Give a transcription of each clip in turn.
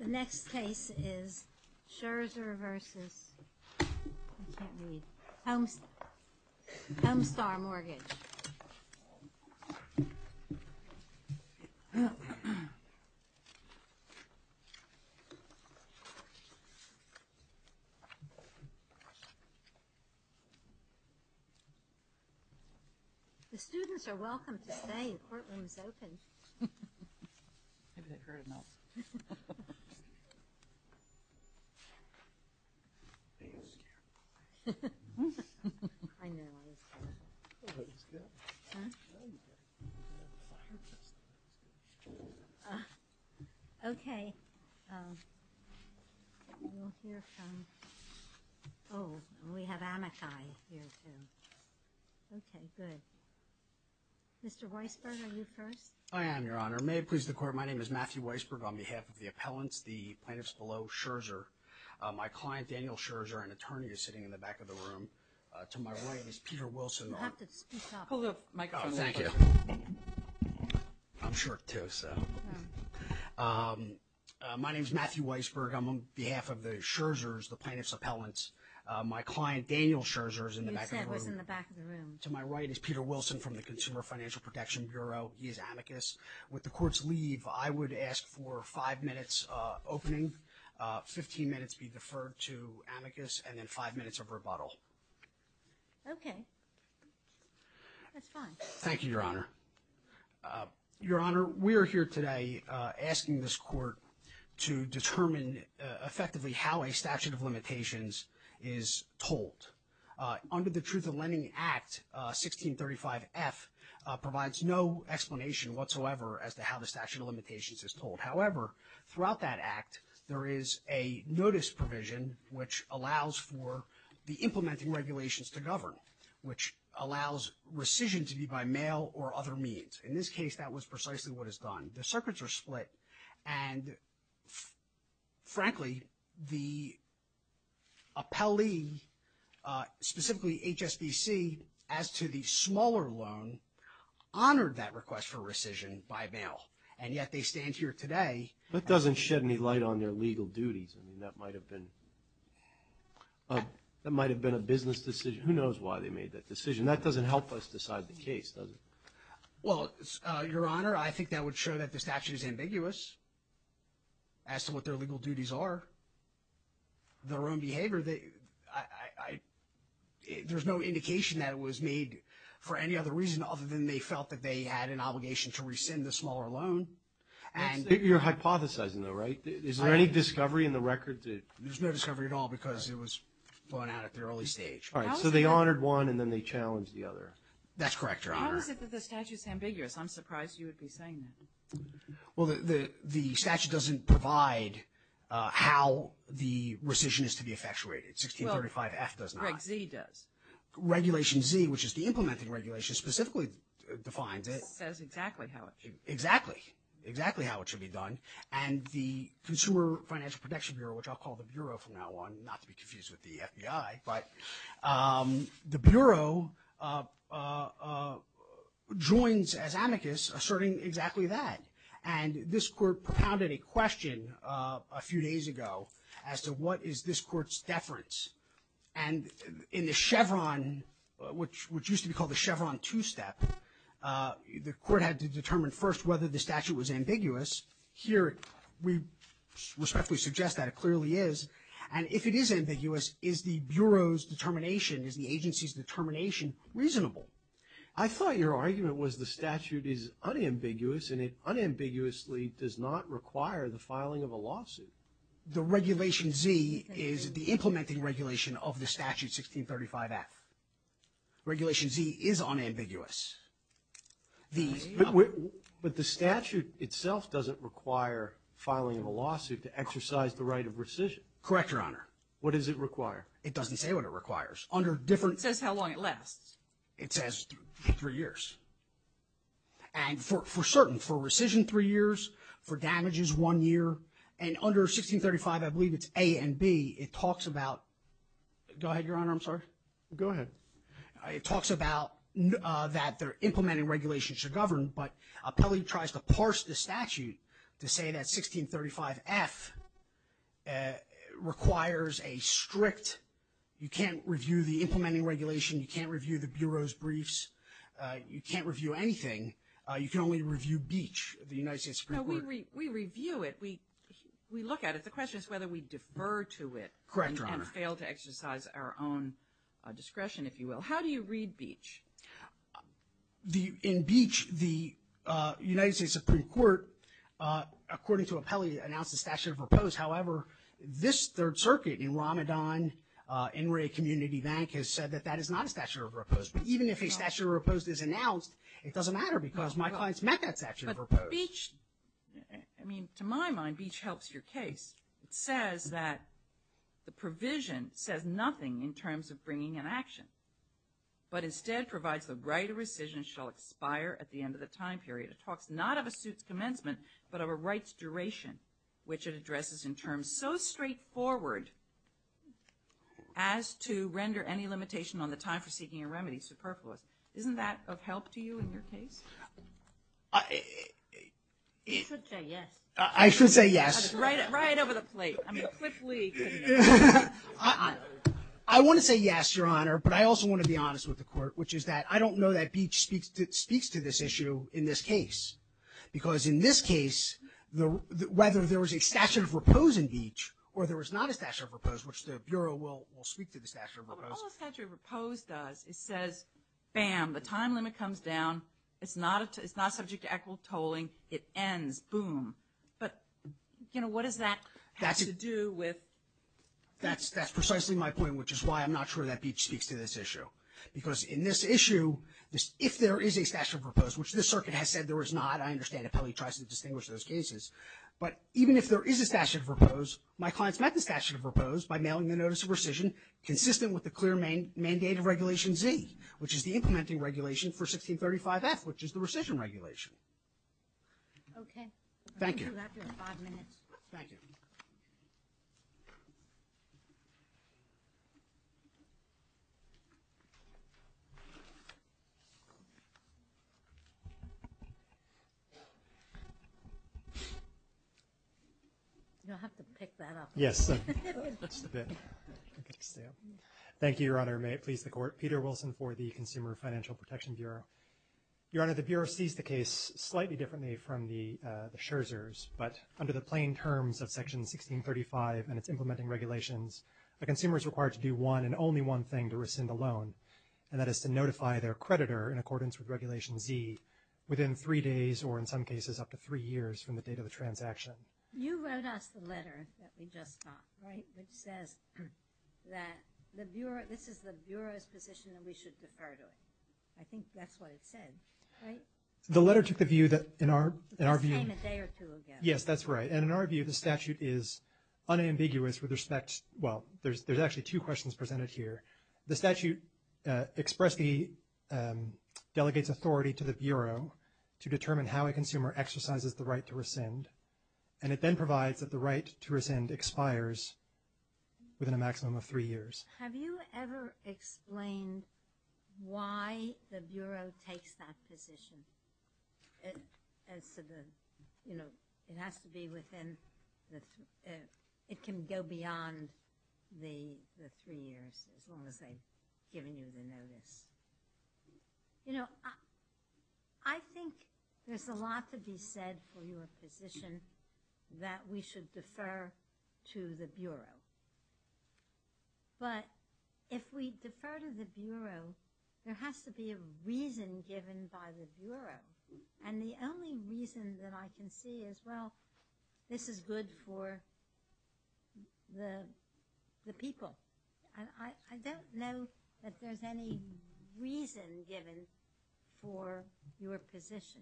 The next case is Scherzer versus, I can't read, Homestar Mortgage. The students are welcome to stay, the courtroom is open. Maybe they've heard enough. Okay, we'll hear from, oh, we have Amakai here too, okay, good. Mr. Weisberg, are you first? Mr. Weisberg, on behalf of the appellants, the plaintiffs below, Scherzer. My client, Daniel Scherzer, an attorney, is sitting in the back of the room. To my right is Peter Weisberg, on behalf of the Scherzers, the plaintiffs' appellants. My client, Daniel Scherzer, is in the back of the room. To my right is Peter Weisberg from the Consumer Financial Protection Bureau, he is amicus With the court's leave, I would ask for five minutes opening, 15 minutes be deferred to amicus, and then five minutes of rebuttal. Okay. That's fine. Thank you, Your Honor. Your Honor, we are here today asking this court to determine effectively how a statute of limitations is told. Under the Truth in Lending Act, 1635F provides no explanation whatsoever as to how the statute of limitations is told. However, throughout that act, there is a notice provision which allows for the implementing regulations to govern, which allows rescission to be by mail or other means. In this case, that was precisely what is done. The circuits are split, and frankly, the appellee, specifically HSBC, as to the smaller loan, honored that request for rescission by mail. And yet, they stand here today. That doesn't shed any light on their legal duties. I mean, that might have been a business decision. Who knows why they made that decision? That doesn't help us decide the case, does it? Well, Your Honor, I think that would show that the statute is ambiguous as to what their legal duties are. Their own behavior, there's no indication that it was made for any other reason other than they felt that they had an obligation to rescind the smaller loan. You're hypothesizing, though, right? Is there any discovery in the record? There's no discovery at all because it was blown out at the early stage. All right, so they honored one, and then they challenged the other. That's correct, Your Honor. But how is it that the statute's ambiguous? I'm surprised you would be saying that. Well, the statute doesn't provide how the rescission is to be effectuated. 1635F does not. Well, Reg Z does. Regulation Z, which is the implementing regulation, specifically defines it. It says exactly how it should be done. Exactly. Exactly how it should be done. And the Consumer Financial Protection Bureau, which I'll call the Bureau from now on, not to be confused with the FBI, but the Bureau joins as amicus asserting exactly that. And this Court propounded a question a few days ago as to what is this Court's deference. And in the Chevron, which used to be called the Chevron 2 step, the Court had to determine first whether the statute was ambiguous. Here, we respectfully suggest that it clearly is. And if it is ambiguous, is the Bureau's determination, is the agency's determination reasonable? I thought your argument was the statute is unambiguous, and it unambiguously does not require the filing of a lawsuit. The Regulation Z is the implementing regulation of the statute 1635F. Regulation Z is unambiguous. But the statute itself doesn't require filing of a lawsuit to exercise the right of rescission. Correct, your Honor. What does it require? It doesn't say what it requires. Under different... It says how long it lasts. It says three years. And for certain, for rescission, three years, for damages, one year. And under 1635, I believe it's A and B. It talks about... Go ahead, your Honor. I'm sorry. Go ahead. It talks about that they're implementing regulations to govern, but Appellee tries to parse the statute to say that 1635F requires a strict... You can't review the implementing regulation. You can't review the Bureau's briefs. You can't review anything. You can only review Beach, the United States Supreme Court. We review it. We look at it. The question is whether we defer to it. Correct, your Honor. And fail to exercise our own discretion, if you will. How do you read Beach? In Beach, the United States Supreme Court, according to Appellee, announced a statute of repose. However, this Third Circuit in Ramadan, NRA Community Bank has said that that is not a statute of repose. But even if a statute of repose is announced, it doesn't matter because my clients met that statute of repose. But Beach... I mean, to my mind, Beach helps your case. It says that the provision says nothing in terms of bringing an action. But instead provides the right of rescission shall expire at the end of the time period. It talks not of a suit's commencement, but of a right's duration, which it addresses in terms so straightforward as to render any limitation on the time for seeking a remedy superfluous. Isn't that of help to you in your case? I... You should say yes. I should say yes. Right over the plate. I mean, Cliff Lee could... I want to say yes, Your Honor. But I also want to be honest with the Court, which is that I don't know that Beach speaks to this issue in this case. Because in this case, whether there was a statute of repose in Beach or there was not a statute of repose, which the Bureau will speak to the statute of repose. All a statute of repose does is says, bam, the time limit comes down. It's not subject to equitable tolling. It ends. Boom. But, you know, what does that have to do with... That's precisely my point, which is why I'm not sure that Beach speaks to this issue. Because in this issue, if there is a statute of repose, which this circuit has said there is not, I understand it probably tries to distinguish those cases. But even if there is a statute of repose, my clients met the statute of repose by mailing the notice of rescission consistent with the clear mandate of Regulation Z, which is the implementing regulation for 1635F, which is the rescission regulation. Okay. Thank you. After five minutes. Thank you. You'll have to pick that up. Yes. Just a bit. Thank you, Your Honor. May it please the Court. Peter Wilson for the Consumer Financial Protection Bureau. Your Honor, the Bureau sees the case slightly differently from the Scherzer's. But under the plain terms of Section 1635 and its implementing regulations, a consumer is required to do one and only one thing to rescind a loan, and that is to notify their creditor in accordance with Regulation Z within three days or in some cases up to three years from the date of the transaction. You wrote us the letter that we just got, right, which says that this is the Bureau's position and we should defer to it. I think that's what it said, right? The letter took the view that in our view. It just came a day or two ago. Yes, that's right. And in our view, the statute is unambiguous with respect to, well, there's actually two questions presented here. The statute delegates authority to the Bureau to determine how a consumer exercises the right to rescind, and it then provides that the right to rescind expires within a maximum of three years. Have you ever explained why the Bureau takes that position as to the, you know, it has to be within the – it can go beyond the three years as long as they've given you the notice? You know, I think there's a lot to be said for your position that we should defer to the Bureau. But if we defer to the Bureau, there has to be a reason given by the Bureau, and the only reason that I can see is, well, this is good for the people. I don't know that there's any reason given for your position.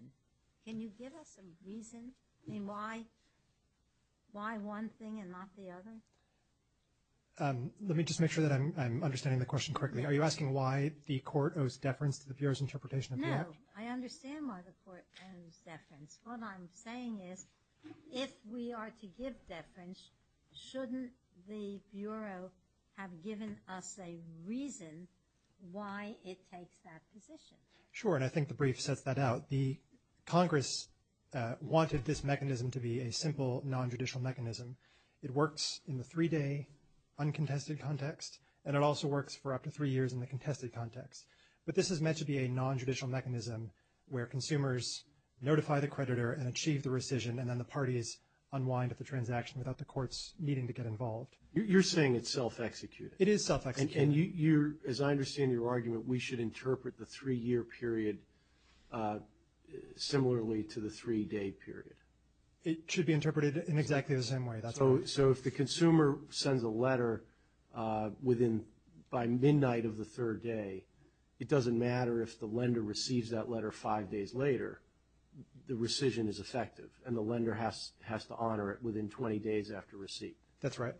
Can you give us a reason? I mean, why one thing and not the other? Let me just make sure that I'm understanding the question correctly. Are you asking why the Court owes deference to the Bureau's interpretation of the Act? No. I understand why the Court owes deference. What I'm saying is if we are to give deference, shouldn't the Bureau have given us a reason why it takes that position? Sure, and I think the brief sets that out. The Congress wanted this mechanism to be a simple nondjudicial mechanism. It works in the three-day uncontested context, and it also works for up to three years in the contested context. But this is meant to be a nondjudicial mechanism where consumers notify the creditor and achieve the rescission, and then the parties unwind at the transaction without the courts needing to get involved. You're saying it's self-executed. It is self-executed. As I understand your argument, we should interpret the three-year period similarly to the three-day period. It should be interpreted in exactly the same way. So if the consumer sends a letter by midnight of the third day, it doesn't matter if the lender receives that letter five days later. The rescission is effective, and the lender has to honor it within 20 days after receipt. That's right.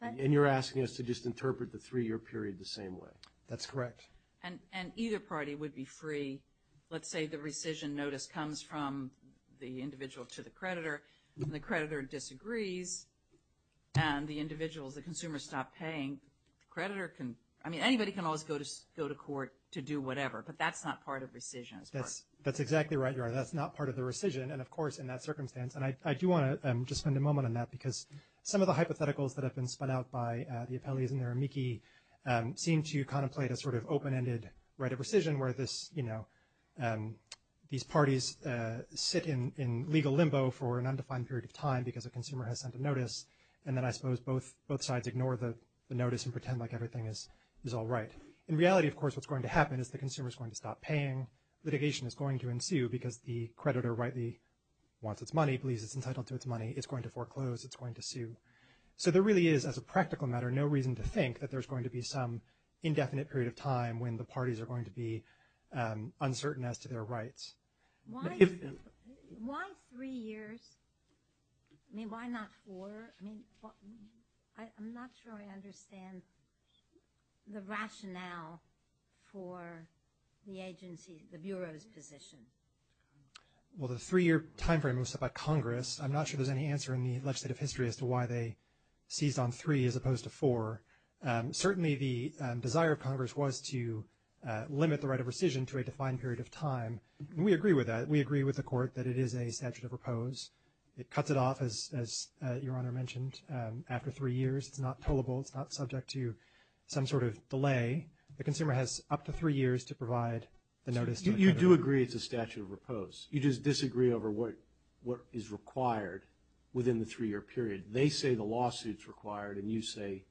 And you're asking us to just interpret the three-year period the same way. That's correct. And either party would be free. Let's say the rescission notice comes from the individual to the creditor, and the creditor disagrees, and the consumers stop paying. Anybody can always go to court to do whatever, but that's not part of rescission. That's exactly right, Your Honor. That's not part of the rescission. And, of course, in that circumstance, and I do want to just spend a moment on that, because some of the hypotheticals that have been spun out by the appellees and their amici seem to contemplate a sort of open-ended right of rescission, where these parties sit in legal limbo for an undefined period of time because a consumer has sent a notice, and then I suppose both sides ignore the notice and pretend like everything is all right. In reality, of course, what's going to happen is the consumer is going to stop paying. Litigation is going to ensue because the creditor rightly wants its money, believes it's entitled to its money. It's going to foreclose. It's going to sue. So there really is, as a practical matter, no reason to think that there's going to be some indefinite period of time when the parties are going to be uncertain as to their rights. Why three years? I mean, why not four? I'm not sure I understand the rationale for the agency, the Bureau's position. Well, the three-year timeframe was set by Congress. I'm not sure there's any answer in the legislative history as to why they seized on three as opposed to four. Certainly the desire of Congress was to limit the right of rescission to a defined period of time. We agree with that. We agree with the Court that it is a statute of repose. It cuts it off, as Your Honor mentioned, after three years. It's not tollable. It's not subject to some sort of delay. The consumer has up to three years to provide the notice to the creditor. You do agree it's a statute of repose. You just disagree over what is required within the three-year period. They say the lawsuit's required, and you say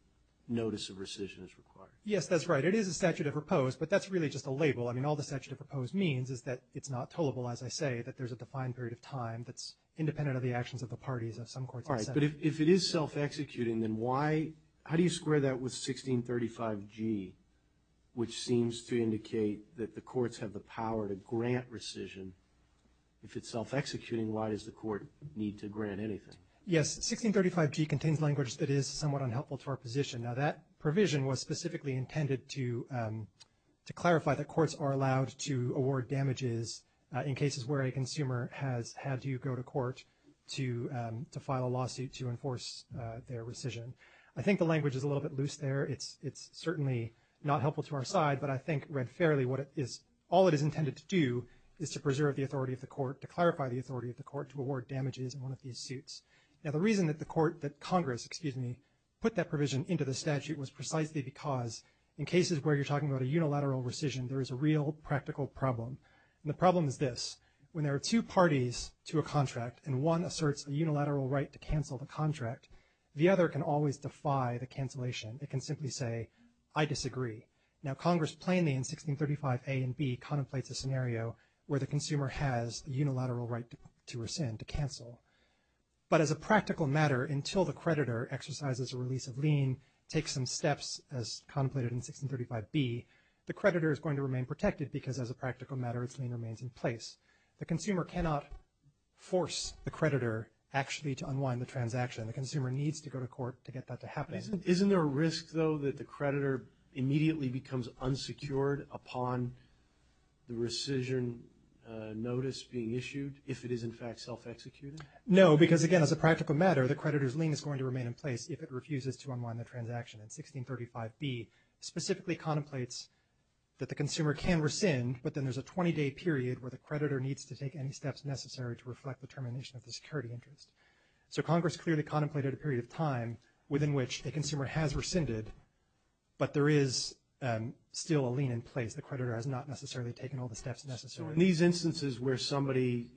notice of rescission is required. Yes, that's right. It is a statute of repose, but that's really just a label. I mean, all the statute of repose means is that it's not tollable, as I say, that there's a defined period of time that's independent of the actions of the parties of some courts. All right, but if it is self-executing, then why do you square that with 1635G, which seems to indicate that the courts have the power to grant rescission? If it's self-executing, why does the court need to grant anything? Yes, 1635G contains language that is somewhat unhelpful to our position. Now, that provision was specifically intended to clarify that courts are allowed to award damages in cases where a consumer has had to go to court to file a lawsuit to enforce their rescission. I think the language is a little bit loose there. It's certainly not helpful to our side, but I think read fairly, all it is intended to do is to preserve the authority of the court, to clarify the authority of the court to award damages in one of these suits. Now, the reason that the court, that Congress, excuse me, put that provision into the statute was precisely because in cases where you're talking about a unilateral rescission, there is a real practical problem, and the problem is this. When there are two parties to a contract and one asserts a unilateral right to cancel the contract, the other can always defy the cancellation. It can simply say, I disagree. Now, Congress plainly in 1635A and B contemplates a scenario where the consumer has a unilateral right to rescind, to cancel. But as a practical matter, until the creditor exercises a release of lien, takes some steps as contemplated in 1635B, the creditor is going to remain protected because as a practical matter, its lien remains in place. The consumer cannot force the creditor actually to unwind the transaction. The consumer needs to go to court to get that to happen. Isn't there a risk, though, that the creditor immediately becomes unsecured upon the rescission notice being issued if it is in fact self-executed? No, because again, as a practical matter, the creditor's lien is going to remain in place if it refuses to unwind the transaction. And 1635B specifically contemplates that the consumer can rescind, but then there's a 20-day period where the creditor needs to take any steps necessary to reflect the termination of the security interest. So Congress clearly contemplated a period of time within which the consumer has rescinded, but there is still a lien in place. The creditor has not necessarily taken all the steps necessary. So in these instances where somebody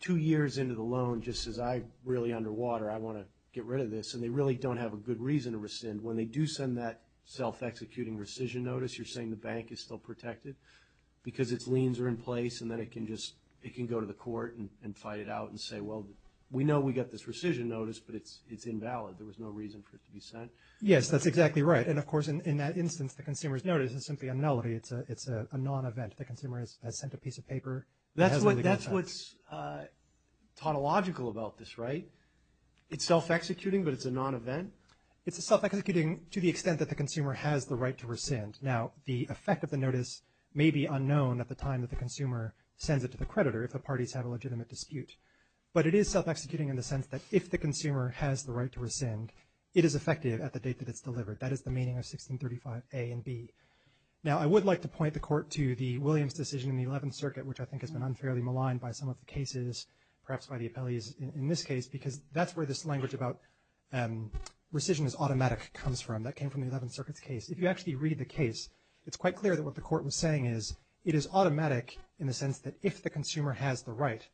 two years into the loan just says, I'm really underwater, I want to get rid of this, and they really don't have a good reason to rescind, when they do send that self-executing rescission notice, you're saying the bank is still protected because its liens are in place and then it can go to the court and fight it out and say, well, we know we got this rescission notice, but it's invalid. There was no reason for it to be sent. Yes, that's exactly right. And, of course, in that instance, the consumer's notice is simply a nullity. It's a non-event. The consumer has sent a piece of paper. That's what's tautological about this, right? It's self-executing, but it's a non-event? It's a self-executing to the extent that the consumer has the right to rescind. Now, the effect of the notice may be unknown at the time that the consumer sends it to the creditor if the parties have a legitimate dispute. But it is self-executing in the sense that if the consumer has the right to rescind, it is effective at the date that it's delivered. That is the meaning of 1635a and b. Now, I would like to point the Court to the Williams decision in the Eleventh Circuit, which I think has been unfairly maligned by some of the cases, perhaps by the appellees in this case, because that's where this language about rescission is automatic comes from. That came from the Eleventh Circuit's case. If you actually read the case, it's quite clear that what the Court was saying is it is automatic in the sense that if the consumer has the right,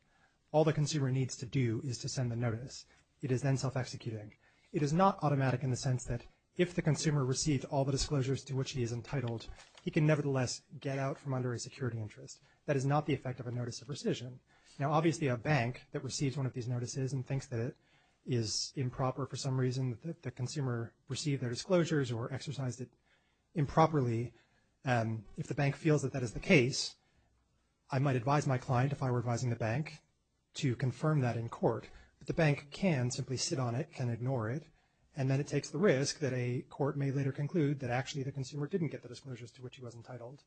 all the consumer needs to do is to send the notice. It is then self-executing. It is not automatic in the sense that if the consumer received all the disclosures to which he is entitled, he can nevertheless get out from under a security interest. That is not the effect of a notice of rescission. Now, obviously, a bank that receives one of these notices and thinks that it is improper for some reason that the consumer received their disclosures or exercised it improperly, if the bank feels that that is the case, I might advise my client, if I were advising the bank, to confirm that in court. But the bank can simply sit on it, can ignore it, and then it takes the risk that a court may later conclude that actually the consumer didn't get the disclosures to which he was entitled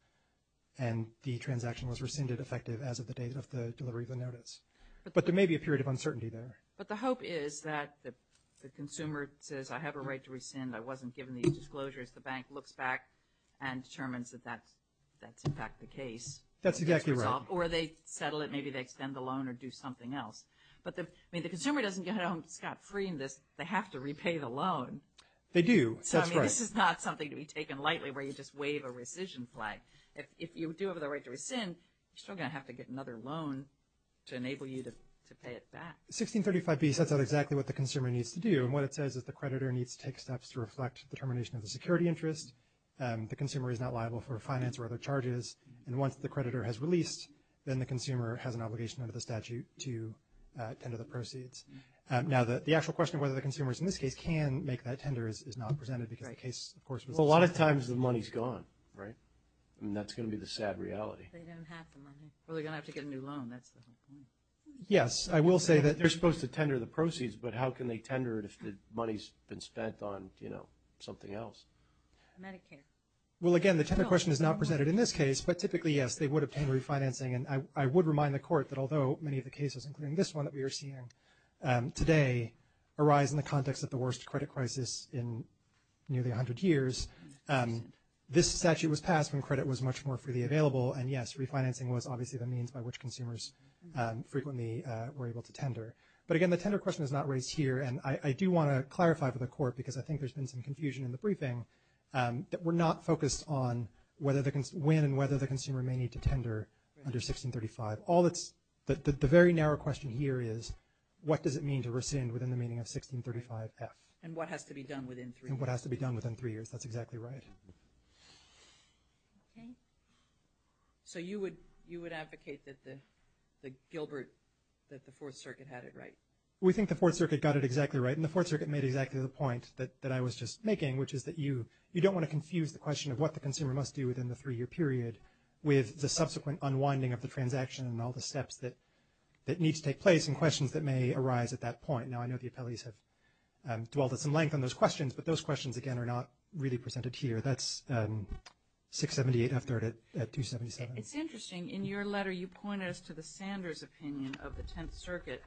and the transaction was rescinded effective as of the date of the delivery of the notice. But there may be a period of uncertainty there. But the hope is that the consumer says, I have a right to rescind. I wasn't given these disclosures. The bank looks back and determines that that's, in fact, the case. That's exactly right. Or they settle it. Maybe they extend the loan or do something else. But, I mean, the consumer doesn't go, Scott, free in this. They have to repay the loan. They do. That's correct. So, I mean, this is not something to be taken lightly where you just wave a rescission flag. If you do have the right to rescind, you're still going to have to get another loan to enable you to pay it back. 1635B sets out exactly what the consumer needs to do. And what it says is the creditor needs to take steps to reflect determination of the security interest. The consumer is not liable for finance or other charges. And once the creditor has released, then the consumer has an obligation under the statute to tender the proceeds. Now, the actual question of whether the consumers, in this case, can make that tender is not presented. Because the case, of course, was- A lot of times the money's gone, right? And that's going to be the sad reality. They don't have the money. Well, they're going to have to get a new loan. That's the whole point. Yes. I will say that they're supposed to tender the proceeds. But how can they tender it if the money's been spent on, you know, something else? Medicare. Well, again, the tender question is not presented in this case. But typically, yes, they would obtain refinancing. And I would remind the Court that although many of the cases, including this one that we are seeing today, arise in the context of the worst credit crisis in nearly 100 years, this statute was passed when credit was much more freely available. And, yes, refinancing was obviously the means by which consumers frequently were able to tender. But, again, the tender question is not raised here. And I do want to clarify for the Court, because I think there's been some confusion in the briefing, that we're not focused on when and whether the consumer may need to tender under 1635. The very narrow question here is, what does it mean to rescind within the meaning of 1635F? And what has to be done within three years. And what has to be done within three years. That's exactly right. Okay. So you would advocate that the Gilbert, that the Fourth Circuit had it right? We think the Fourth Circuit got it exactly right. And the Fourth Circuit made exactly the point that I was just making, which is that you don't want to confuse the question of what the consumer must do within the three-year period with the subsequent unwinding of the transaction and all the steps that need to take place and questions that may arise at that point. Now, I know the appellees have dwelled at some length on those questions, but those questions, again, are not really presented here. That's 678F at 277. It's interesting. In your letter, you pointed us to the Sanders opinion of the Tenth Circuit,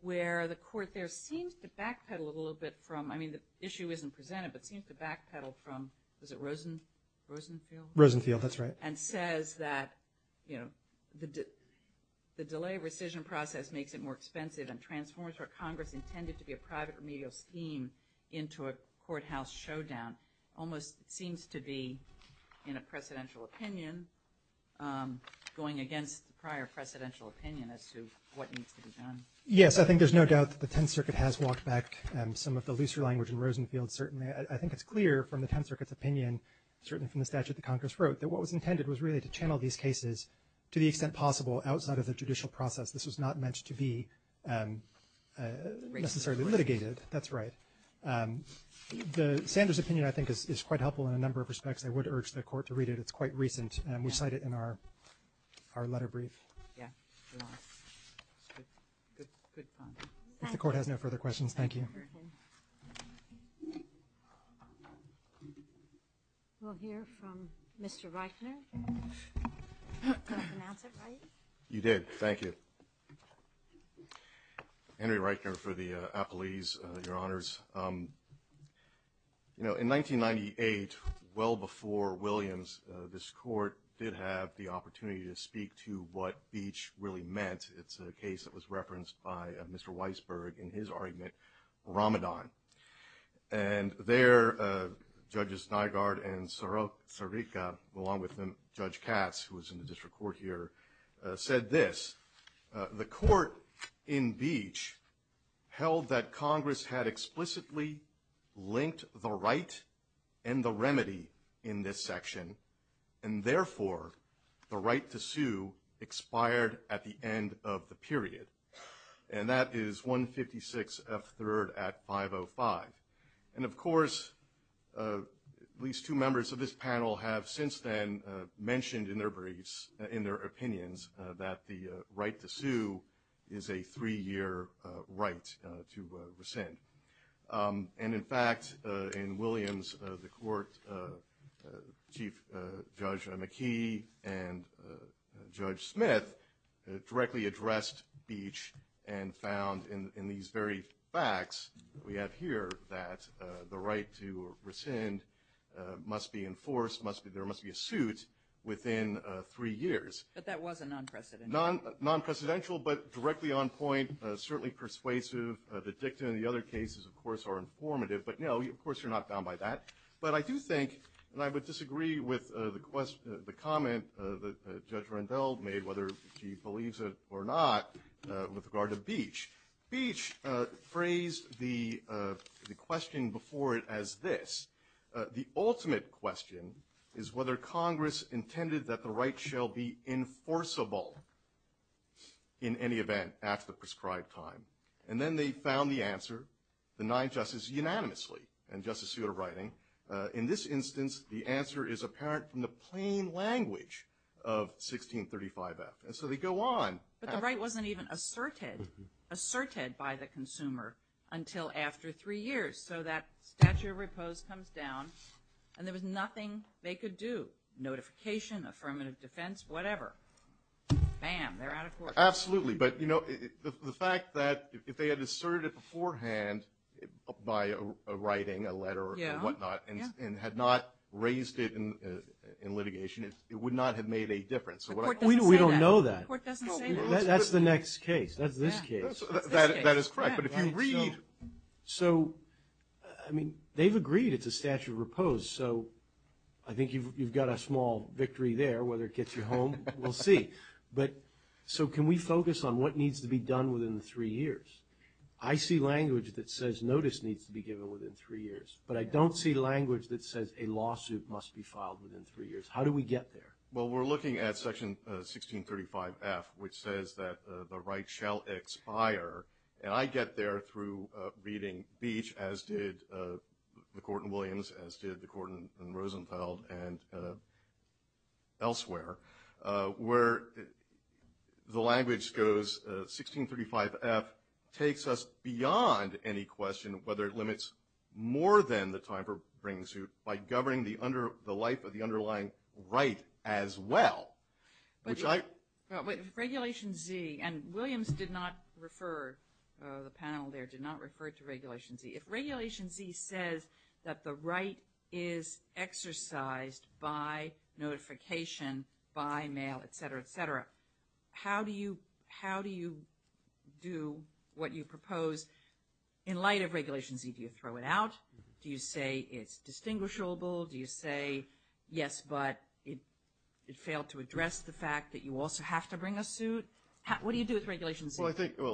where the court there seems to backpedal a little bit from, I mean, the issue isn't presented, but seems to backpedal from, was it Rosenfield? Rosenfield, that's right. And says that, you know, the delay rescission process makes it more expensive and transforms what Congress intended to be a private remedial scheme into a courthouse showdown, almost seems to be in a precedential opinion, going against the prior precedential opinion as to what needs to be done. Yes. I think there's no doubt that the Tenth Circuit has walked back some of the looser language in Rosenfield. Certainly, I think it's clear from the Tenth Circuit's opinion, certainly from the statute the Congress wrote, that what was intended was really to channel these cases to the extent possible outside of the judicial process. This was not meant to be necessarily litigated. That's right. The Sanders opinion, I think, is quite helpful in a number of respects. I would urge the court to read it. It's quite recent, and we cite it in our letter brief. Yeah. Good point. If the court has no further questions, thank you. We'll hear from Mr. Reitner. Did I pronounce it right? You did. Thank you. Henry Reitner for the appellees, Your Honors. You know, in 1998, well before Williams, this court did have the opportunity to speak to what Beach really meant. It's a case that was referenced by Mr. Weisberg in his argument, Ramadan. And there, Judges Nygaard and Sarika, along with Judge Katz, who was in the district court here, said this. The court in Beach held that Congress had explicitly linked the right and the remedy in this section, and therefore the right to sue expired at the end of the period. And that is 156 F3rd Act 505. And, of course, at least two members of this panel have since then mentioned in their briefs, that the right to sue is a three-year right to rescind. And, in fact, in Williams, the court, Chief Judge McKee and Judge Smith directly addressed Beach and found in these very facts that we have here that the right to rescind must be enforced, there must be a suit within three years. But that was a non-precedential. Non-precedential, but directly on point, certainly persuasive. The dictum in the other cases, of course, are informative. But, no, of course you're not bound by that. But I do think, and I would disagree with the comment that Judge Rendell made, whether she believes it or not, with regard to Beach. Beach phrased the question before it as this. The ultimate question is whether Congress intended that the right shall be enforceable in any event after the prescribed time. And then they found the answer, the nine justices unanimously, and Justice Souter writing, in this instance the answer is apparent from the plain language of 1635 F. And so they go on. But the right wasn't even asserted by the consumer until after three years. So that statute of repose comes down, and there was nothing they could do. Notification, affirmative defense, whatever. Bam, they're out of court. Absolutely. But, you know, the fact that if they had asserted it beforehand by writing a letter or whatnot and had not raised it in litigation, it would not have made a difference. The court doesn't say that. We don't know that. The court doesn't say that. That's the next case. That's this case. That is correct. So, I mean, they've agreed it's a statute of repose. So I think you've got a small victory there. Whether it gets you home, we'll see. But so can we focus on what needs to be done within three years? I see language that says notice needs to be given within three years, but I don't see language that says a lawsuit must be filed within three years. How do we get there? Well, we're looking at Section 1635 F, which says that the right shall expire. And I get there through reading Beach, as did the court in Williams, as did the court in Rosenthal and elsewhere, where the language goes, 1635 F takes us beyond any question whether it limits more than the time for bringing a suit by governing the life of the underlying right as well. Regulation Z, and Williams did not refer, the panel there did not refer to Regulation Z. If Regulation Z says that the right is exercised by notification, by mail, et cetera, et cetera, how do you do what you propose in light of Regulation Z? Do you throw it out? Do you say it's distinguishable? Do you say, yes, but it failed to address the fact that you also have to bring a suit? What do you do with Regulation Z? Well, I think there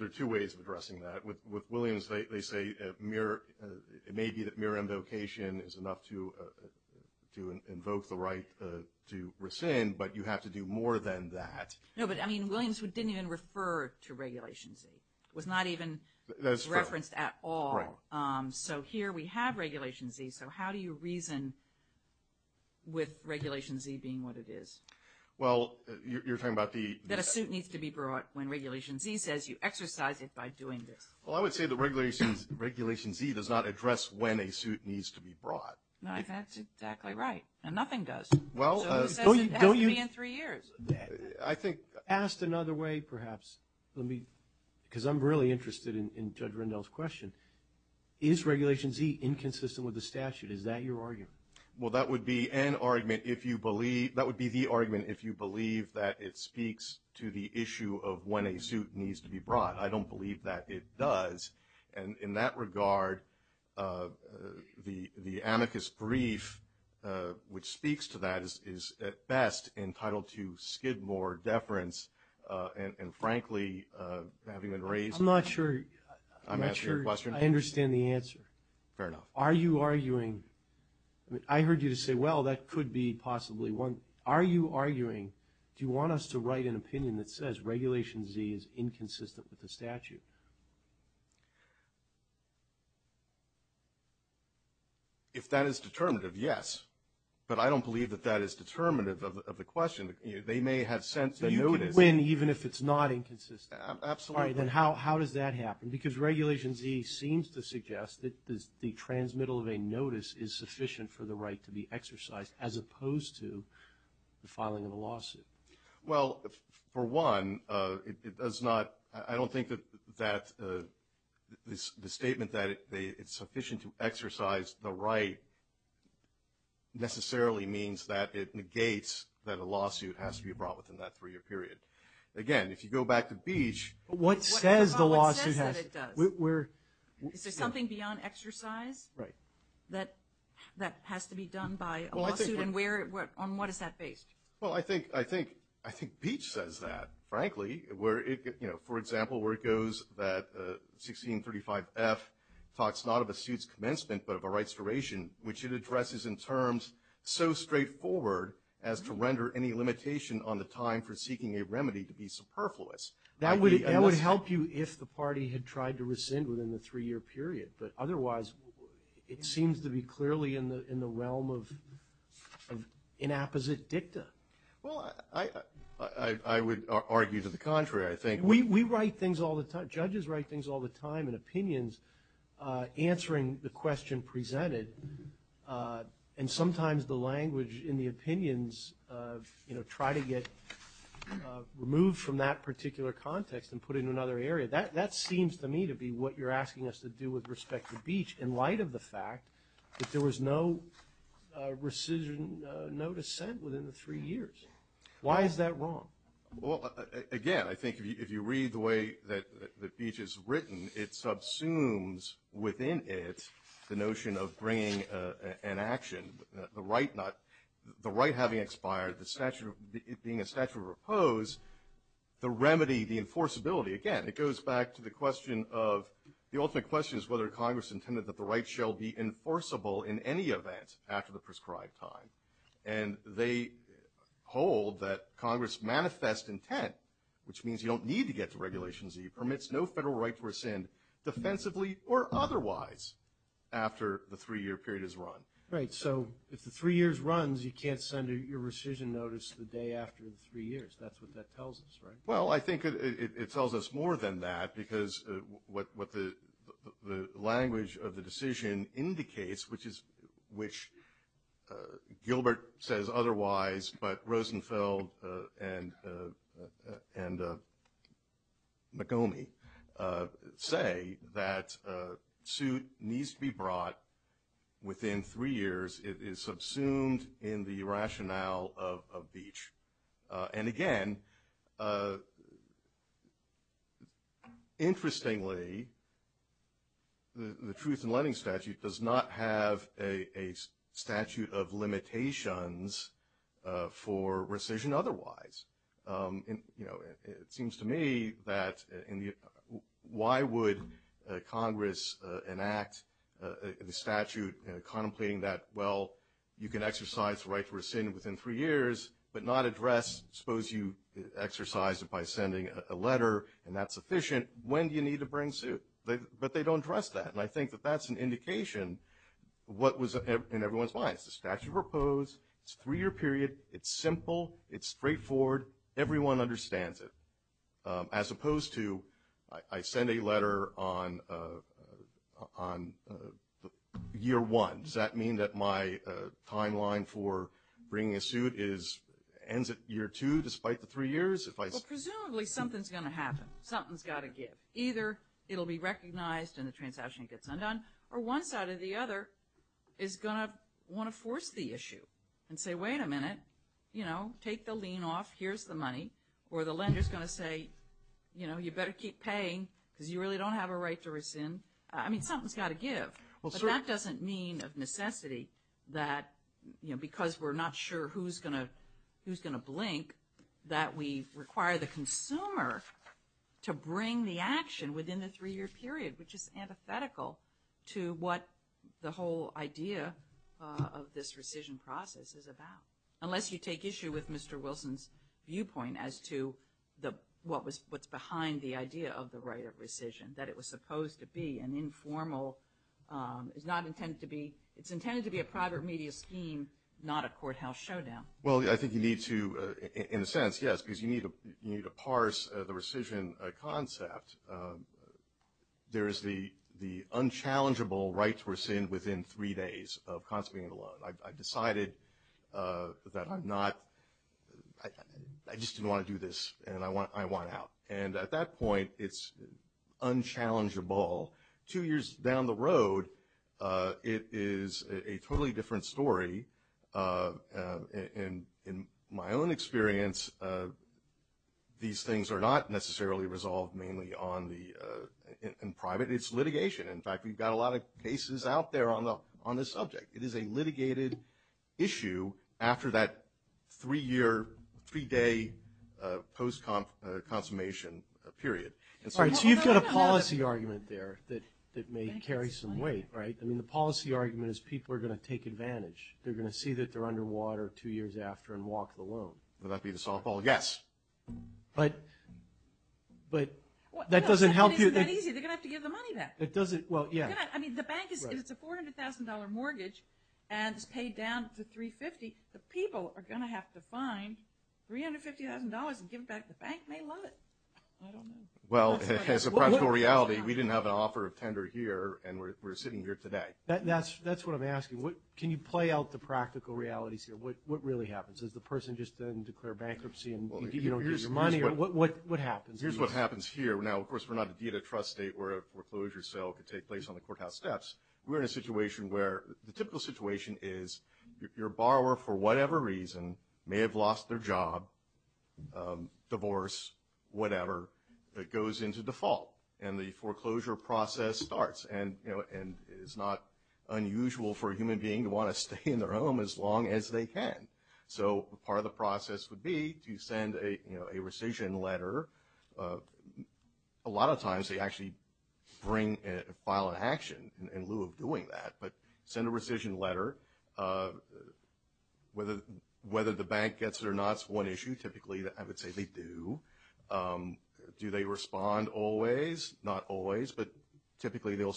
are two ways of addressing that. With Williams, they say it may be that mere invocation is enough to invoke the right to rescind, but you have to do more than that. No, but, I mean, Williams didn't even refer to Regulation Z. It was not even referenced at all. So here we have Regulation Z. So how do you reason with Regulation Z being what it is? Well, you're talking about the- That a suit needs to be brought when Regulation Z says you exercise it by doing this. Well, I would say that Regulation Z does not address when a suit needs to be brought. That's exactly right, and nothing does. So who says it has to be in three years? I think- Asked another way, perhaps, because I'm really interested in Judge Rendell's question. Is Regulation Z inconsistent with the statute? Is that your argument? Well, that would be an argument if you believe- that would be the argument if you believe that it speaks to the issue of when a suit needs to be brought. I don't believe that it does. And in that regard, the amicus brief which speaks to that is, at best, entitled to skidmore deference, and, frankly, having been raised- I'm not sure- I'm asking your question. I understand the answer. Fair enough. Are you arguing- I mean, I heard you say, well, that could be possibly one. Are you arguing, do you want us to write an opinion that says Regulation Z is inconsistent with the statute? If that is determinative, yes. But I don't believe that that is determinative of the question. They may have sent the notice- Even if it's not inconsistent. Absolutely. All right. Then how does that happen? Because Regulation Z seems to suggest that the transmittal of a notice is sufficient for the right to be exercised, as opposed to the filing of a lawsuit. Well, for one, it does not- I don't think that the statement that it's sufficient to exercise the right necessarily means that it negates that a lawsuit has to be brought within that three-year period. Again, if you go back to Beach- What says the lawsuit has- What says that it does? Is there something beyond exercise that has to be done by a lawsuit, and on what is that based? Well, I think Beach says that, frankly. For example, where it goes that 1635F talks not of a suit's commencement but of a right's duration, which it addresses in terms so straightforward as to render any limitation on the time for seeking a remedy to be superfluous. That would help you if the party had tried to rescind within the three-year period, but otherwise it seems to be clearly in the realm of inapposite dicta. Well, I would argue to the contrary, I think. We write things all the time. Judges write things all the time in opinions answering the question presented, and sometimes the language in the opinions try to get removed from that particular context and put in another area. That seems to me to be what you're asking us to do with respect to Beach in light of the fact that there was no rescission, no dissent within the three years. Why is that wrong? Well, again, I think if you read the way that Beach has written, it subsumes within it the notion of bringing an action, the right having expired, it being a statute of repose, the remedy, the enforceability. Again, it goes back to the question of the ultimate question is whether Congress intended that the right shall be enforceable in any event after the prescribed time. And they hold that Congress manifest intent, which means you don't need to get to Regulations E, permits no federal right to rescind defensively or otherwise after the three-year period is run. Right. So if the three years runs, you can't send your rescission notice the day after the three years. That's what that tells us, right? Well, I think it tells us more than that because what the language of the decision indicates, which Gilbert says otherwise, but Rosenfeld and McGomey say, that suit needs to be brought within three years. It is subsumed in the rationale of Beach. And, again, interestingly, the Truth in Lending Statute does not have a statute of limitations for rescission otherwise. It seems to me that why would Congress enact the statute contemplating that, well, you can exercise the right to rescind within three years but not address, suppose you exercise it by sending a letter and that's sufficient, when do you need to bring suit? But they don't address that. And I think that that's an indication what was in everyone's minds. It's a statute of proposed. It's a three-year period. It's simple. It's straightforward. Everyone understands it. As opposed to I send a letter on year one. Does that mean that my timeline for bringing a suit ends at year two despite the three years? Well, presumably something's going to happen. Something's got to give. Either it will be recognized and the transaction gets undone or one side or the other is going to want to force the issue and say, wait a minute, you know, take the lien off. Here's the money. Or the lender's going to say, you know, you better keep paying because you really don't have a right to rescind. I mean something's got to give. But that doesn't mean of necessity that, you know, because we're not sure who's going to blink, that we require the consumer to bring the action within the three-year period, which is antithetical to what the whole idea of this rescission process is about, unless you take issue with Mr. Wilson's viewpoint as to what's behind the idea of the right of rescission, that it was supposed to be an informal. It's intended to be a private media scheme, not a courthouse showdown. Well, I think you need to in a sense, yes, because you need to parse the rescission concept. There is the unchallengeable right to rescind within three days of constantly being alone. I've decided that I'm not, I just didn't want to do this and I want out. And at that point, it's unchallengeable. Two years down the road, it is a totally different story. And in my own experience, these things are not necessarily resolved mainly on the, in private. It's litigation. In fact, we've got a lot of cases out there on the subject. It is a litigated issue after that three-year, three-day post-consummation period. Sorry, so you've got a policy argument there that may carry some weight, right? I mean, the policy argument is people are going to take advantage. They're going to see that they're underwater two years after and walk the loan. Would that be the softball? Yes. But that doesn't help you. It isn't that easy. They're going to have to give the money back. It doesn't, well, yeah. I mean, the bank is, it's a $400,000 mortgage and it's paid down to $350,000. The people are going to have to find $350,000 and give it back. The bank may love it. I don't know. Well, as a practical reality, we didn't have an offer of tender here and we're sitting here today. That's what I'm asking. Can you play out the practical realities here? What really happens? Does the person just then declare bankruptcy and you don't get your money? What happens? Here's what happens here. Now, of course, we're not a data trust state where a foreclosure sale could take place on the courthouse steps. We're in a situation where the typical situation is your borrower, for whatever reason, may have lost their job, divorce, whatever, that goes into default and the foreclosure process starts and it's not unusual for a human being to want to stay in their home as long as they can. So part of the process would be to send a rescission letter. A lot of times they actually bring a file in action in lieu of doing that. But send a rescission letter. Whether the bank gets it or not is one issue. Typically, I would say they do. Do they respond always? Not always, but typically they'll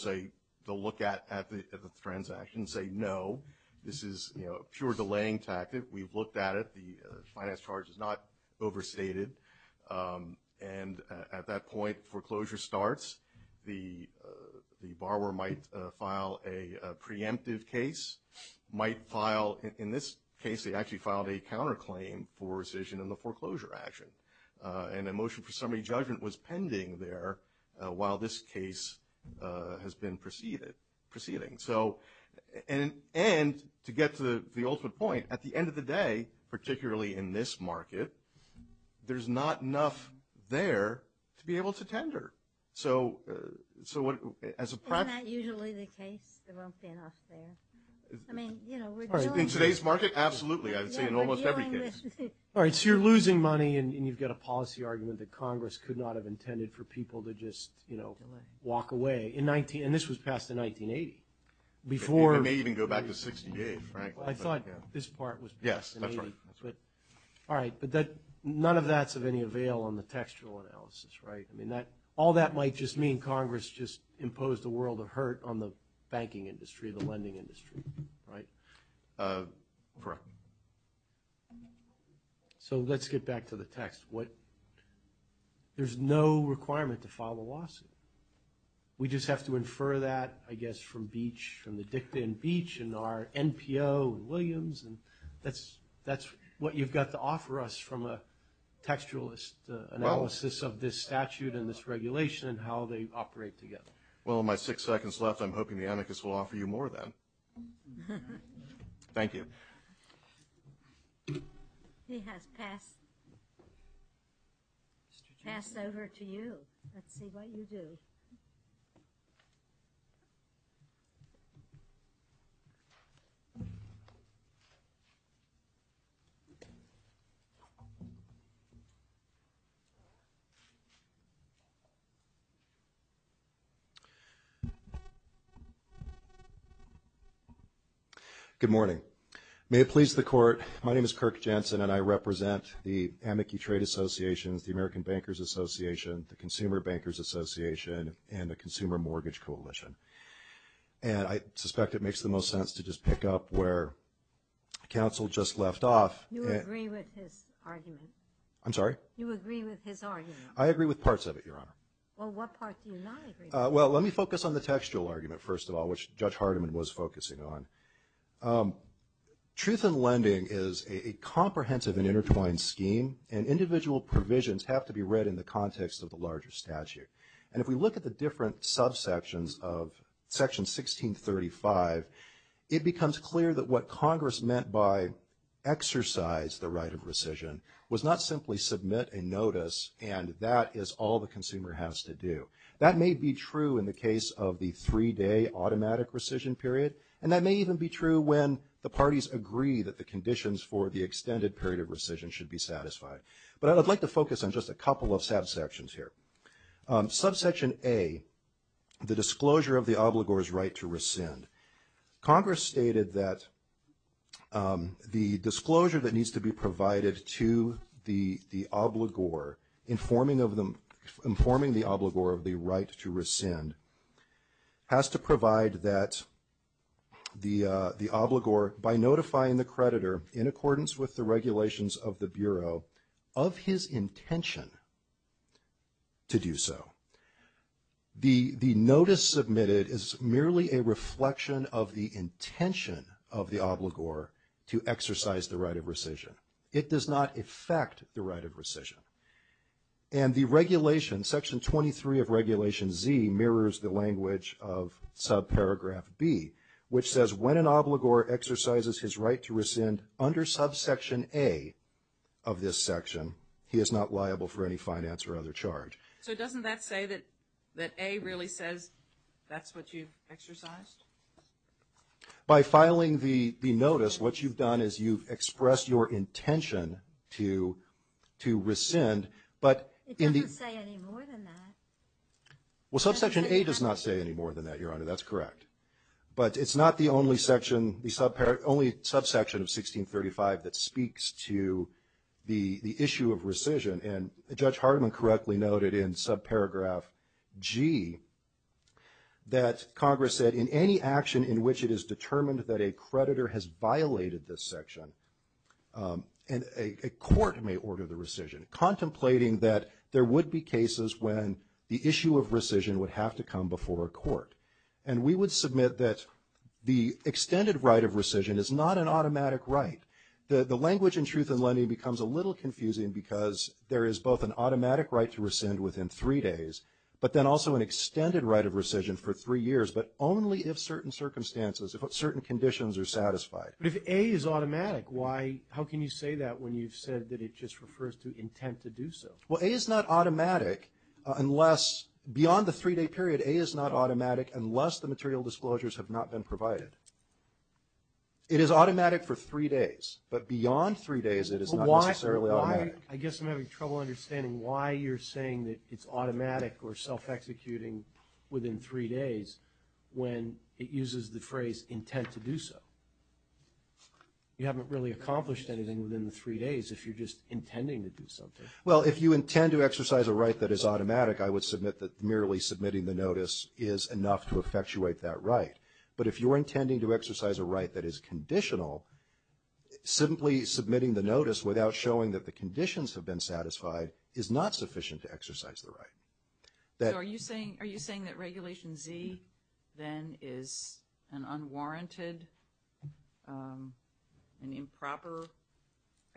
look at the transaction and say, no, this is a pure delaying tactic. We've looked at it. The finance charge is not overstated. And at that point, foreclosure starts. The borrower might file a preemptive case, might file, in this case, they actually filed a counterclaim for rescission in the foreclosure action. And a motion for summary judgment was pending there while this case has been proceeding. And to get to the ultimate point, at the end of the day, particularly in this market, there's not enough there to be able to tender. Isn't that usually the case? There won't be enough there. In today's market, absolutely. I would say in almost every case. All right, so you're losing money and you've got a policy argument that Congress could not have intended for people to just walk away. And this was passed in 1980. It may even go back to 1968, frankly. I thought this part was passed in 1980. Yes, that's right. All right, but none of that's of any avail on the textual analysis, right? I mean, all that might just mean Congress just imposed a world of hurt on the banking industry, the lending industry, right? Correct. So let's get back to the text. There's no requirement to file a lawsuit. We just have to infer that, I guess, from Beach, from the dicta in Beach and our NPO in Williams. And that's what you've got to offer us from a textualist analysis of this statute and this regulation and how they operate together. Well, in my six seconds left, I'm hoping the anarchists will offer you more then. Thank you. He has passed over to you. Good morning. May it please the Court, my name is Kirk Jensen, and I represent the Amici Trade Association, the American Bankers Association, the Consumer Bankers Association, and the Consumer Mortgage Coalition. And I suspect it makes the most sense to just pick up where counsel just left off. You agree with his argument. I'm sorry? You agree with his argument. I agree with parts of it, Your Honor. Well, what part do you not agree with? Well, let me focus on the textual argument first of all, which Judge Hardiman was focusing on. Truth in lending is a comprehensive and intertwined scheme, and individual provisions have to be read in the context of the larger statute. And if we look at the different subsections of Section 1635, it becomes clear that what Congress meant by exercise the right of rescission was not simply submit a notice and that is all the consumer has to do. That may be true in the case of the three-day automatic rescission period, and that may even be true when the parties agree that the conditions for the extended period of rescission should be satisfied. But I would like to focus on just a couple of subsections here. Subsection A, the disclosure of the obligor's right to rescind. Congress stated that the disclosure that needs to be provided to the obligor, informing the obligor of the right to rescind, has to provide that the obligor, by notifying the creditor in accordance with the regulations of the Bureau, of his intention to do so. The notice submitted is merely a reflection of the intention of the obligor to exercise the right of rescission. It does not affect the right of rescission. And the regulation, Section 23 of Regulation Z, mirrors the language of subparagraph B, which says when an obligor exercises his right to rescind under subsection A of this section, he is not liable for any finance or other charge. So doesn't that say that A really says that's what you've exercised? By filing the notice, what you've done is you've expressed your intention to rescind. It doesn't say any more than that. Well, subsection A does not say any more than that, Your Honor. That's correct. But it's not the only subsection of 1635 that speaks to the issue of rescission. And Judge Hardiman correctly noted in subparagraph G that Congress said, in any action in which it is determined that a creditor has violated this section, a court may order the rescission, contemplating that there would be cases when the issue of rescission would have to come before a court. And we would submit that the extended right of rescission is not an automatic right. The language in truth and leniency becomes a little confusing because there is both an automatic right to rescind within three days, but then also an extended right of rescission for three years, but only if certain circumstances, if certain conditions are satisfied. But if A is automatic, how can you say that when you've said that it just refers to intent to do so? Well, A is not automatic unless beyond the three-day period, A is not automatic unless the material disclosures have not been provided. It is automatic for three days. But beyond three days, it is not necessarily automatic. I guess I'm having trouble understanding why you're saying that it's automatic or self-executing within three days when it uses the phrase intent to do so. You haven't really accomplished anything within the three days if you're just intending to do something. Well, if you intend to exercise a right that is automatic, I would submit that merely submitting the notice is enough to effectuate that right. But if you're intending to exercise a right that is conditional, simply submitting the notice without showing that the conditions have been satisfied is not sufficient to exercise the right. So are you saying that Regulation Z then is an unwarranted, an improper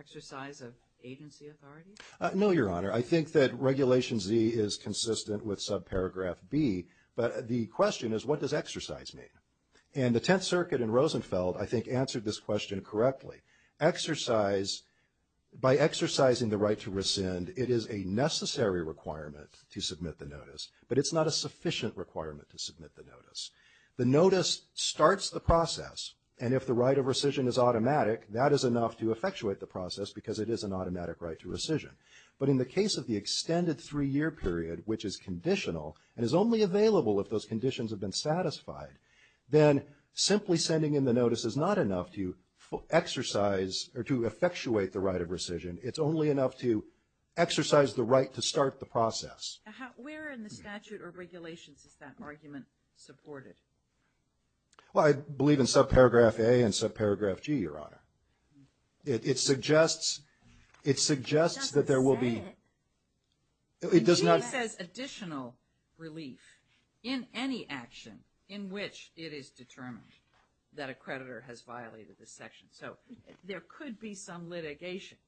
exercise of agency authority? No, Your Honor. I think that Regulation Z is consistent with subparagraph B, but the question is what does exercise mean? And the Tenth Circuit in Rosenfeld, I think, answered this question correctly. By exercising the right to rescind, it is a necessary requirement to submit the notice, but it's not a sufficient requirement to submit the notice. The notice starts the process, and if the right of rescission is automatic, that is enough to effectuate the process because it is an automatic right to rescission. But in the case of the extended three-year period, which is conditional and is only available if those conditions have been satisfied, then simply sending in the notice is not enough to exercise or to effectuate the right of rescission. It's only enough to exercise the right to start the process. Where in the statute or regulations is that argument supported? Well, I believe in subparagraph A and subparagraph G, Your Honor. It suggests that there will be – It doesn't say it. G says additional relief in any action in which it is determined that a creditor has violated the section. So there could be some litigation,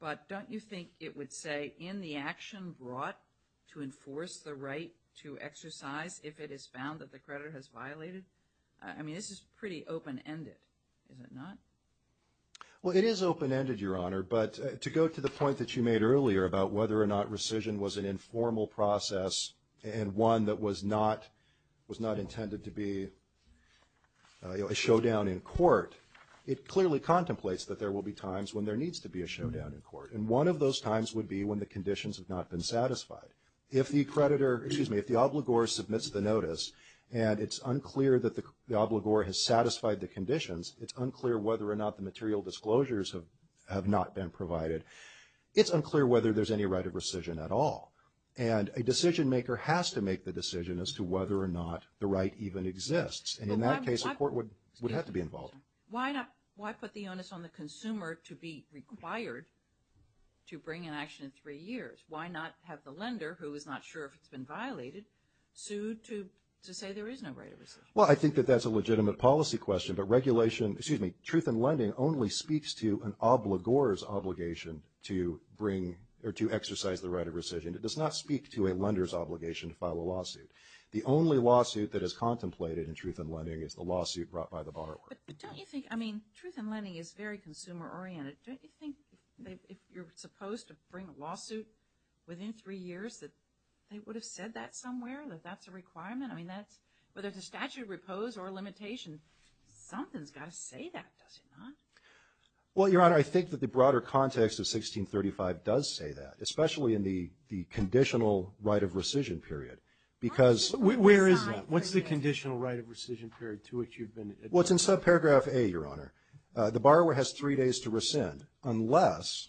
but don't you think it would say in the action brought to enforce the right to exercise if it is found that the creditor has violated? I mean, this is pretty open-ended, is it not? Well, it is open-ended, Your Honor, but to go to the point that you made earlier about whether or not rescission was an informal process and one that was not intended to be a showdown in court, it clearly contemplates that there will be times when there needs to be a showdown in court. And one of those times would be when the conditions have not been satisfied. If the creditor – excuse me – if the obligor submits the notice and it's unclear that the obligor has satisfied the conditions, it's unclear whether or not the material disclosures have not been provided, it's unclear whether there's any right of rescission at all. And a decision-maker has to make the decision as to whether or not the right even exists. And in that case, the court would have to be involved. Why put the onus on the consumer to be required to bring an action in three years? Why not have the lender, who is not sure if it's been violated, sued to say there is no right of rescission? Well, I think that that's a legitimate policy question, but regulation – excuse me – truth in lending only speaks to an obligor's obligation to bring – or to exercise the right of rescission. It does not speak to a lender's obligation to file a lawsuit. The only lawsuit that is contemplated in truth in lending is the lawsuit brought by the borrower. But don't you think – I mean, truth in lending is very consumer-oriented. Don't you think if you're supposed to bring a lawsuit within three years that they would have said that somewhere, that that's a requirement? I mean, that's – whether it's a statute of repose or a limitation, something's got to say that, does it not? Well, Your Honor, I think that the broader context of 1635 does say that, especially in the conditional right of rescission period, because – Where is that? What's the conditional right of rescission period to which you've been – Well, it's in subparagraph A, Your Honor. The borrower has three days to rescind unless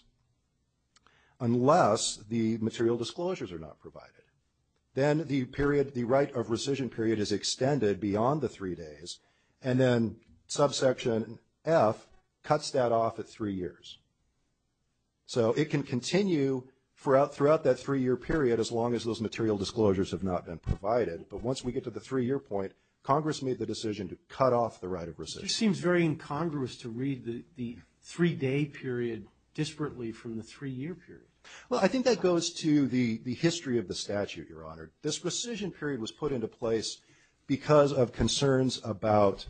the material disclosures are not provided. Then the period – the right of rescission period is extended beyond the three days, and then subsection F cuts that off at three years. So it can continue throughout that three-year period as long as those material disclosures have not been provided. But once we get to the three-year point, Congress made the decision to cut off the right of rescission. It just seems very incongruous to read the three-day period disparately from the three-year period. Well, I think that goes to the history of the statute, Your Honor. This rescission period was put into place because of concerns about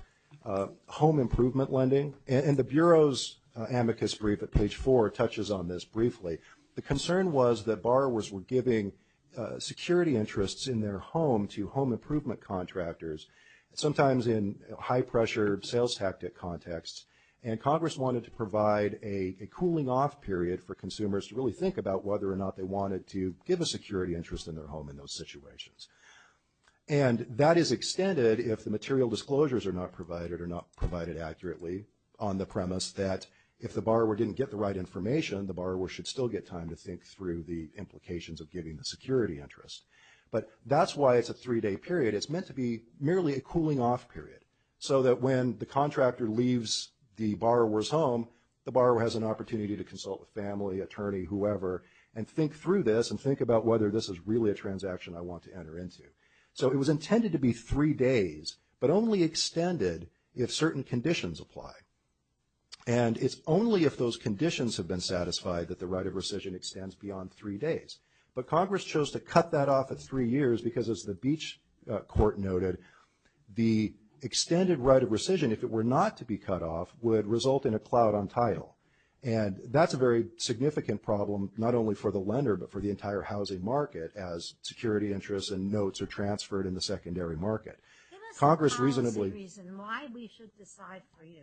home improvement lending. And the Bureau's amicus brief at page 4 touches on this briefly. The concern was that borrowers were giving security interests in their home to home improvement contractors, sometimes in high-pressure sales tactic contexts. And Congress wanted to provide a cooling-off period for consumers to really think about whether or not they wanted to give a security interest in their home in those situations. And that is extended if the material disclosures are not provided or not provided accurately on the premise that if the borrower didn't get the right information, the borrower should still get time to think through the implications of giving the security interest. But that's why it's a three-day period. It's meant to be merely a cooling-off period, so that when the contractor leaves the borrower's home, the borrower has an opportunity to consult with family, attorney, whoever, and think through this and think about whether this is really a transaction I want to enter into. So it was intended to be three days, but only extended if certain conditions apply. And it's only if those conditions have been satisfied that the right of rescission extends beyond three days. But Congress chose to cut that off at three years because, as the Beach court noted, the extended right of rescission, if it were not to be cut off, would result in a cloud on title. And that's a very significant problem, not only for the lender, but for the entire housing market as security interests and notes are transferred in the secondary market. Give us a policy reason why we should decide for you.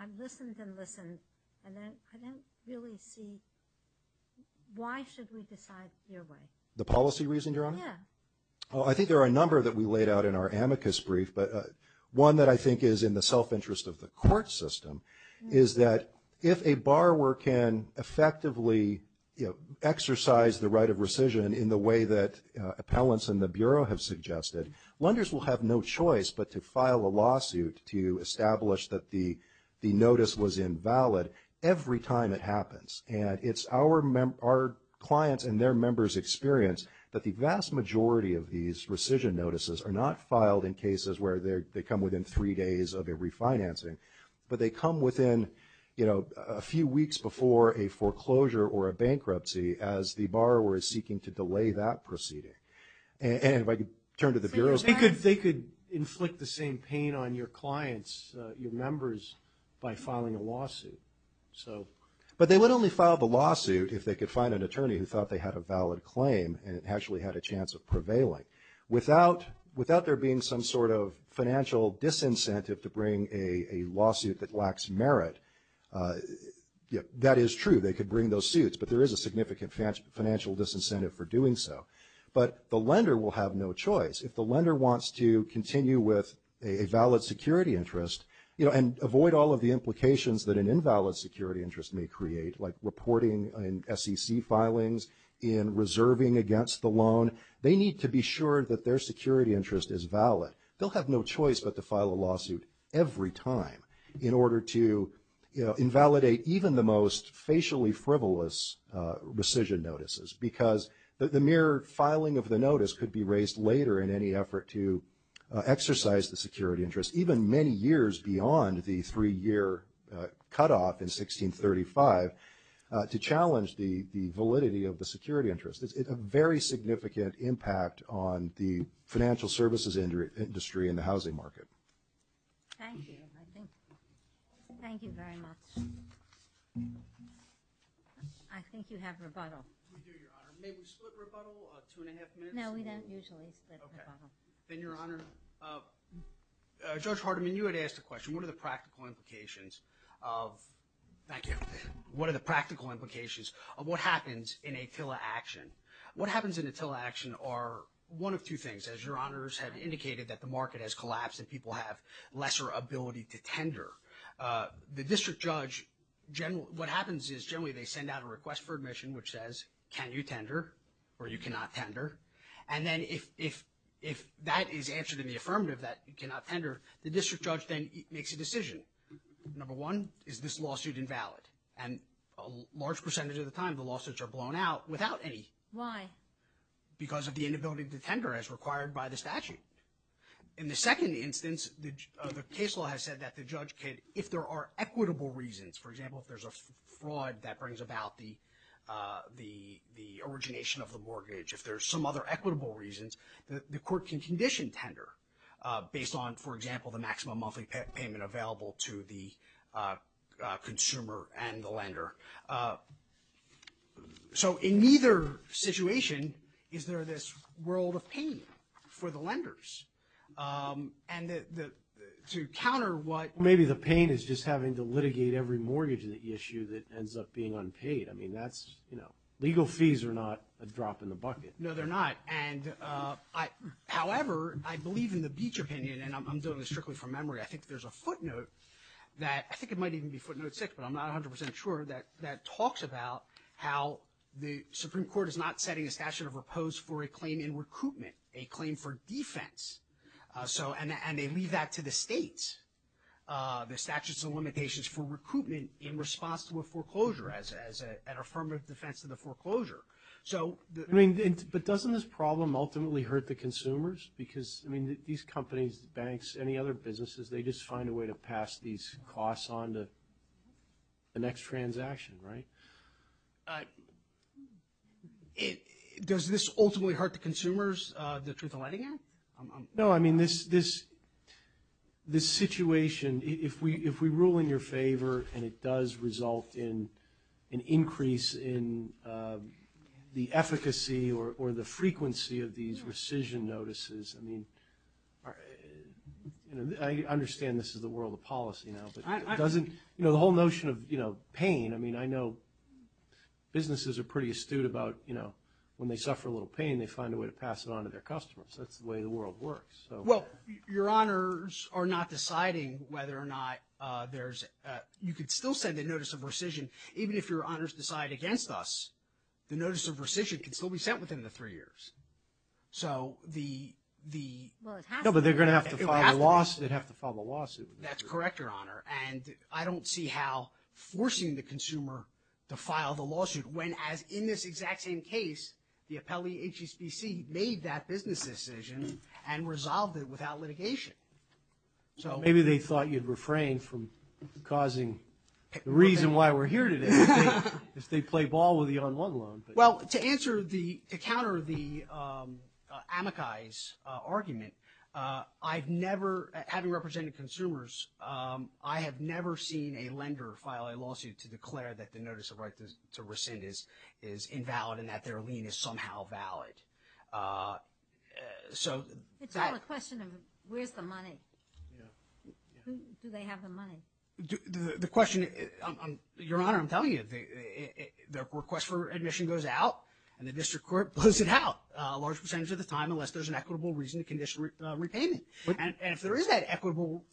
I've listened and listened, and I couldn't really see why should we decide your way. The policy reason, Your Honor? Yeah. Well, I think there are a number that we laid out in our amicus brief, but one that I think is in the self-interest of the court system is that if a borrower can effectively exercise the right of rescission in the way that appellants and the Bureau have suggested, lenders will have no choice but to file a lawsuit to establish that the notice was invalid every time it happens. And it's our clients' and their members' experience that the vast majority of these rescission notices are not filed in cases where they come within three days of a refinancing, but they come within a few weeks before a foreclosure or a bankruptcy as the borrower is seeking to delay that proceeding. And if I could turn to the Bureau. They could inflict the same pain on your clients, your members, by filing a lawsuit. But they would only file the lawsuit if they could find an attorney who thought they had a valid claim and actually had a chance of prevailing. Without there being some sort of financial disincentive to bring a lawsuit that lacks merit, that is true. They could bring those suits, but there is a significant financial disincentive for doing so. But the lender will have no choice. If the lender wants to continue with a valid security interest and avoid all of the implications that an invalid security interest may create, like reporting in SEC filings, in reserving against the loan, they need to be sure that their security interest is valid. They'll have no choice but to file a lawsuit every time in order to invalidate even the most facially frivolous rescission notices. Because the mere filing of the notice could be raised later in any effort to exercise the security interest, even many years beyond the three-year cutoff in 1635, to challenge the validity of the security interest. It's a very significant impact on the financial services industry and the housing market. Thank you. Thank you very much. I think you have rebuttal. We do, Your Honor. May we split rebuttal, two and a half minutes? No, we don't usually split rebuttal. Then, Your Honor, Judge Hardiman, you had asked a question. What are the practical implications of what happens in a TILA action? What happens in a TILA action are one of two things. As Your Honors have indicated, that the market has collapsed and people have lesser ability to tender. The district judge, what happens is generally they send out a request for admission which says, can you tender or you cannot tender? And then if that is answered in the affirmative, that you cannot tender, the district judge then makes a decision. Number one, is this lawsuit invalid? And a large percentage of the time the lawsuits are blown out without any. Why? Because of the inability to tender as required by the statute. In the second instance, the case law has said that the judge can, if there are equitable reasons, for example, if there's a fraud that brings about the origination of the mortgage, if there's some other equitable reasons, the court can condition tender based on, for example, the maximum monthly payment available to the consumer and the lender. So in neither situation is there this world of pain for the lenders. And to counter what. Well, maybe the pain is just having to litigate every mortgage issue that ends up being unpaid. I mean, that's, you know, legal fees are not a drop in the bucket. No, they're not. However, I believe in the Beach opinion, and I'm doing this strictly from memory, I think there's a footnote that, I think it might even be footnote six, but I'm not 100% sure, that talks about how the Supreme Court is not setting a statute of repose for a claim in recruitment, a claim for defense. And they leave that to the state, the statutes and limitations for recruitment in response to a foreclosure, as an affirmative defense to the foreclosure. I mean, but doesn't this problem ultimately hurt the consumers? Because, I mean, these companies, banks, any other businesses, they just find a way to pass these costs on to the next transaction, right? Does this ultimately hurt the consumers, the Truth in Lighting Act? No, I mean, this situation, if we rule in your favor and it does result in an increase in the efficacy or the frequency of these rescission notices, I mean, I understand this is the world of policy now, but doesn't, you know, the whole notion of, you know, pain, I mean, I know businesses are pretty astute about, you know, when they suffer a little pain, they find a way to pass it on to their customers. That's the way the world works. Well, your honors are not deciding whether or not there's, you could still send a notice of rescission, even if your honors decide against us, the notice of rescission can still be sent within the three years. So the, the. Well, it has to be. No, but they're going to have to file a lawsuit. They'd have to file a lawsuit. That's correct, your honor. And I don't see how forcing the consumer to file the lawsuit when, as in this exact same case, the appellee HSBC made that business decision and resolved it without litigation. So maybe they thought you'd refrain from causing the reason why we're here today. If they play ball with you on one loan. Well, to answer the, to counter the amicus argument, I've never, having represented consumers, I have never seen a lender file a lawsuit to declare that the notice of right to rescind is, is invalid and that their lien is somehow valid. So. It's all a question of where's the money? Do they have the money? The question, your honor, I'm telling you, their request for admission goes out and the district court blows it out a large percentage of the time, unless there's an equitable reason to condition repayment. And if there is that equitable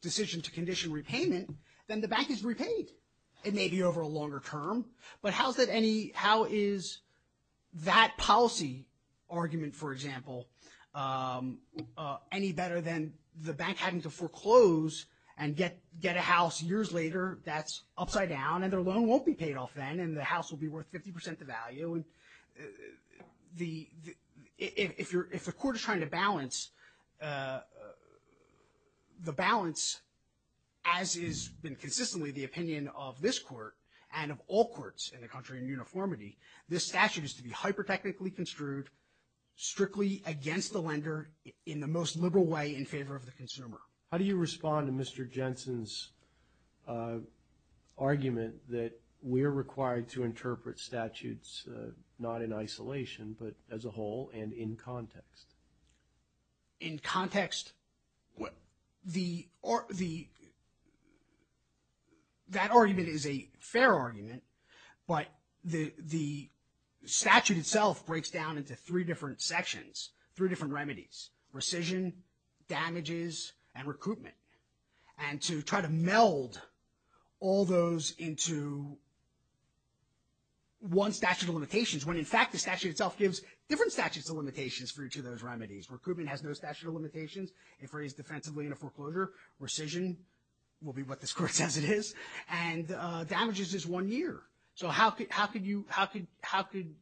decision to condition repayment, then the bank is repaid. It may be over a longer term, but how is that any, how is that policy argument, for example, any better than the bank having to foreclose and get, get a house years later that's upside down and their loan won't be paid off then and the house will be worth 50% the value? The, if you're, if the court is trying to balance the balance, as is been consistently the opinion of this court and of all courts in the country in uniformity, this statute is to be hyper-technically construed, strictly against the lender in the most liberal way in favor of the consumer. How do you respond to Mr. Jensen's argument that we're required to interpret statutes, not in isolation, but as a whole and in context? In context, the, the, that argument is a fair argument, but the, the statute itself breaks down into three different sections, three different remedies, rescission, damages, and recruitment, and to try to meld all those into one statute of limitations, when in fact the statute itself gives different statutes of limitations for each of those remedies. Recruitment has no statute of limitations. If raised defensively in a foreclosure, rescission will be what this court says it is, and damages is one year. So how, how could you, how could, how could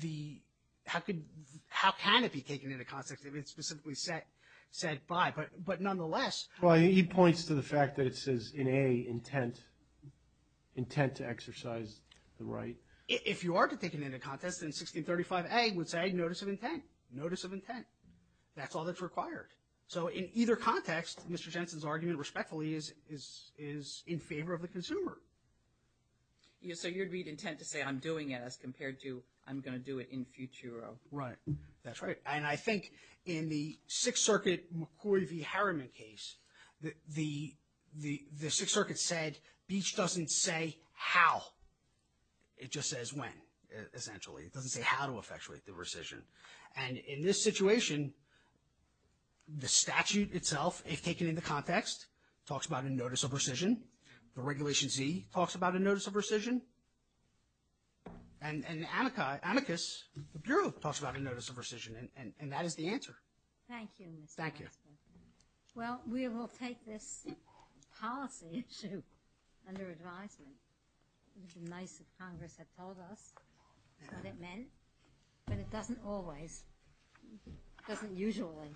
the, how could, how can it be taken into context if it's specifically set, set by, but, but nonetheless. Well, he points to the fact that it says in A, intent, intent to exercise the right. If you are to take it into context, then 1635A would say notice of intent, notice of intent. That's all that's required. So in either context, Mr. Jensen's argument respectfully is, is, is in favor of the consumer. So you'd read intent to say I'm doing it as compared to I'm going to do it in futuro. Right. That's right. And I think in the Sixth Circuit McCoy v. Harriman case, the, the, the Sixth Circuit said Beach doesn't say how, it just says when, essentially. It doesn't say how to effectuate the rescission. And in this situation, the statute itself, if taken into context, talks about a notice of rescission. The Regulation Z talks about a notice of rescission. And, and Anika, Anikus, the Bureau, talks about a notice of rescission. And, and that is the answer. Thank you. Thank you. Well, we will take this policy issue under advisement, which the Mace of Congress have told us what it meant. But it doesn't always, doesn't usually. Thank you. Thank you.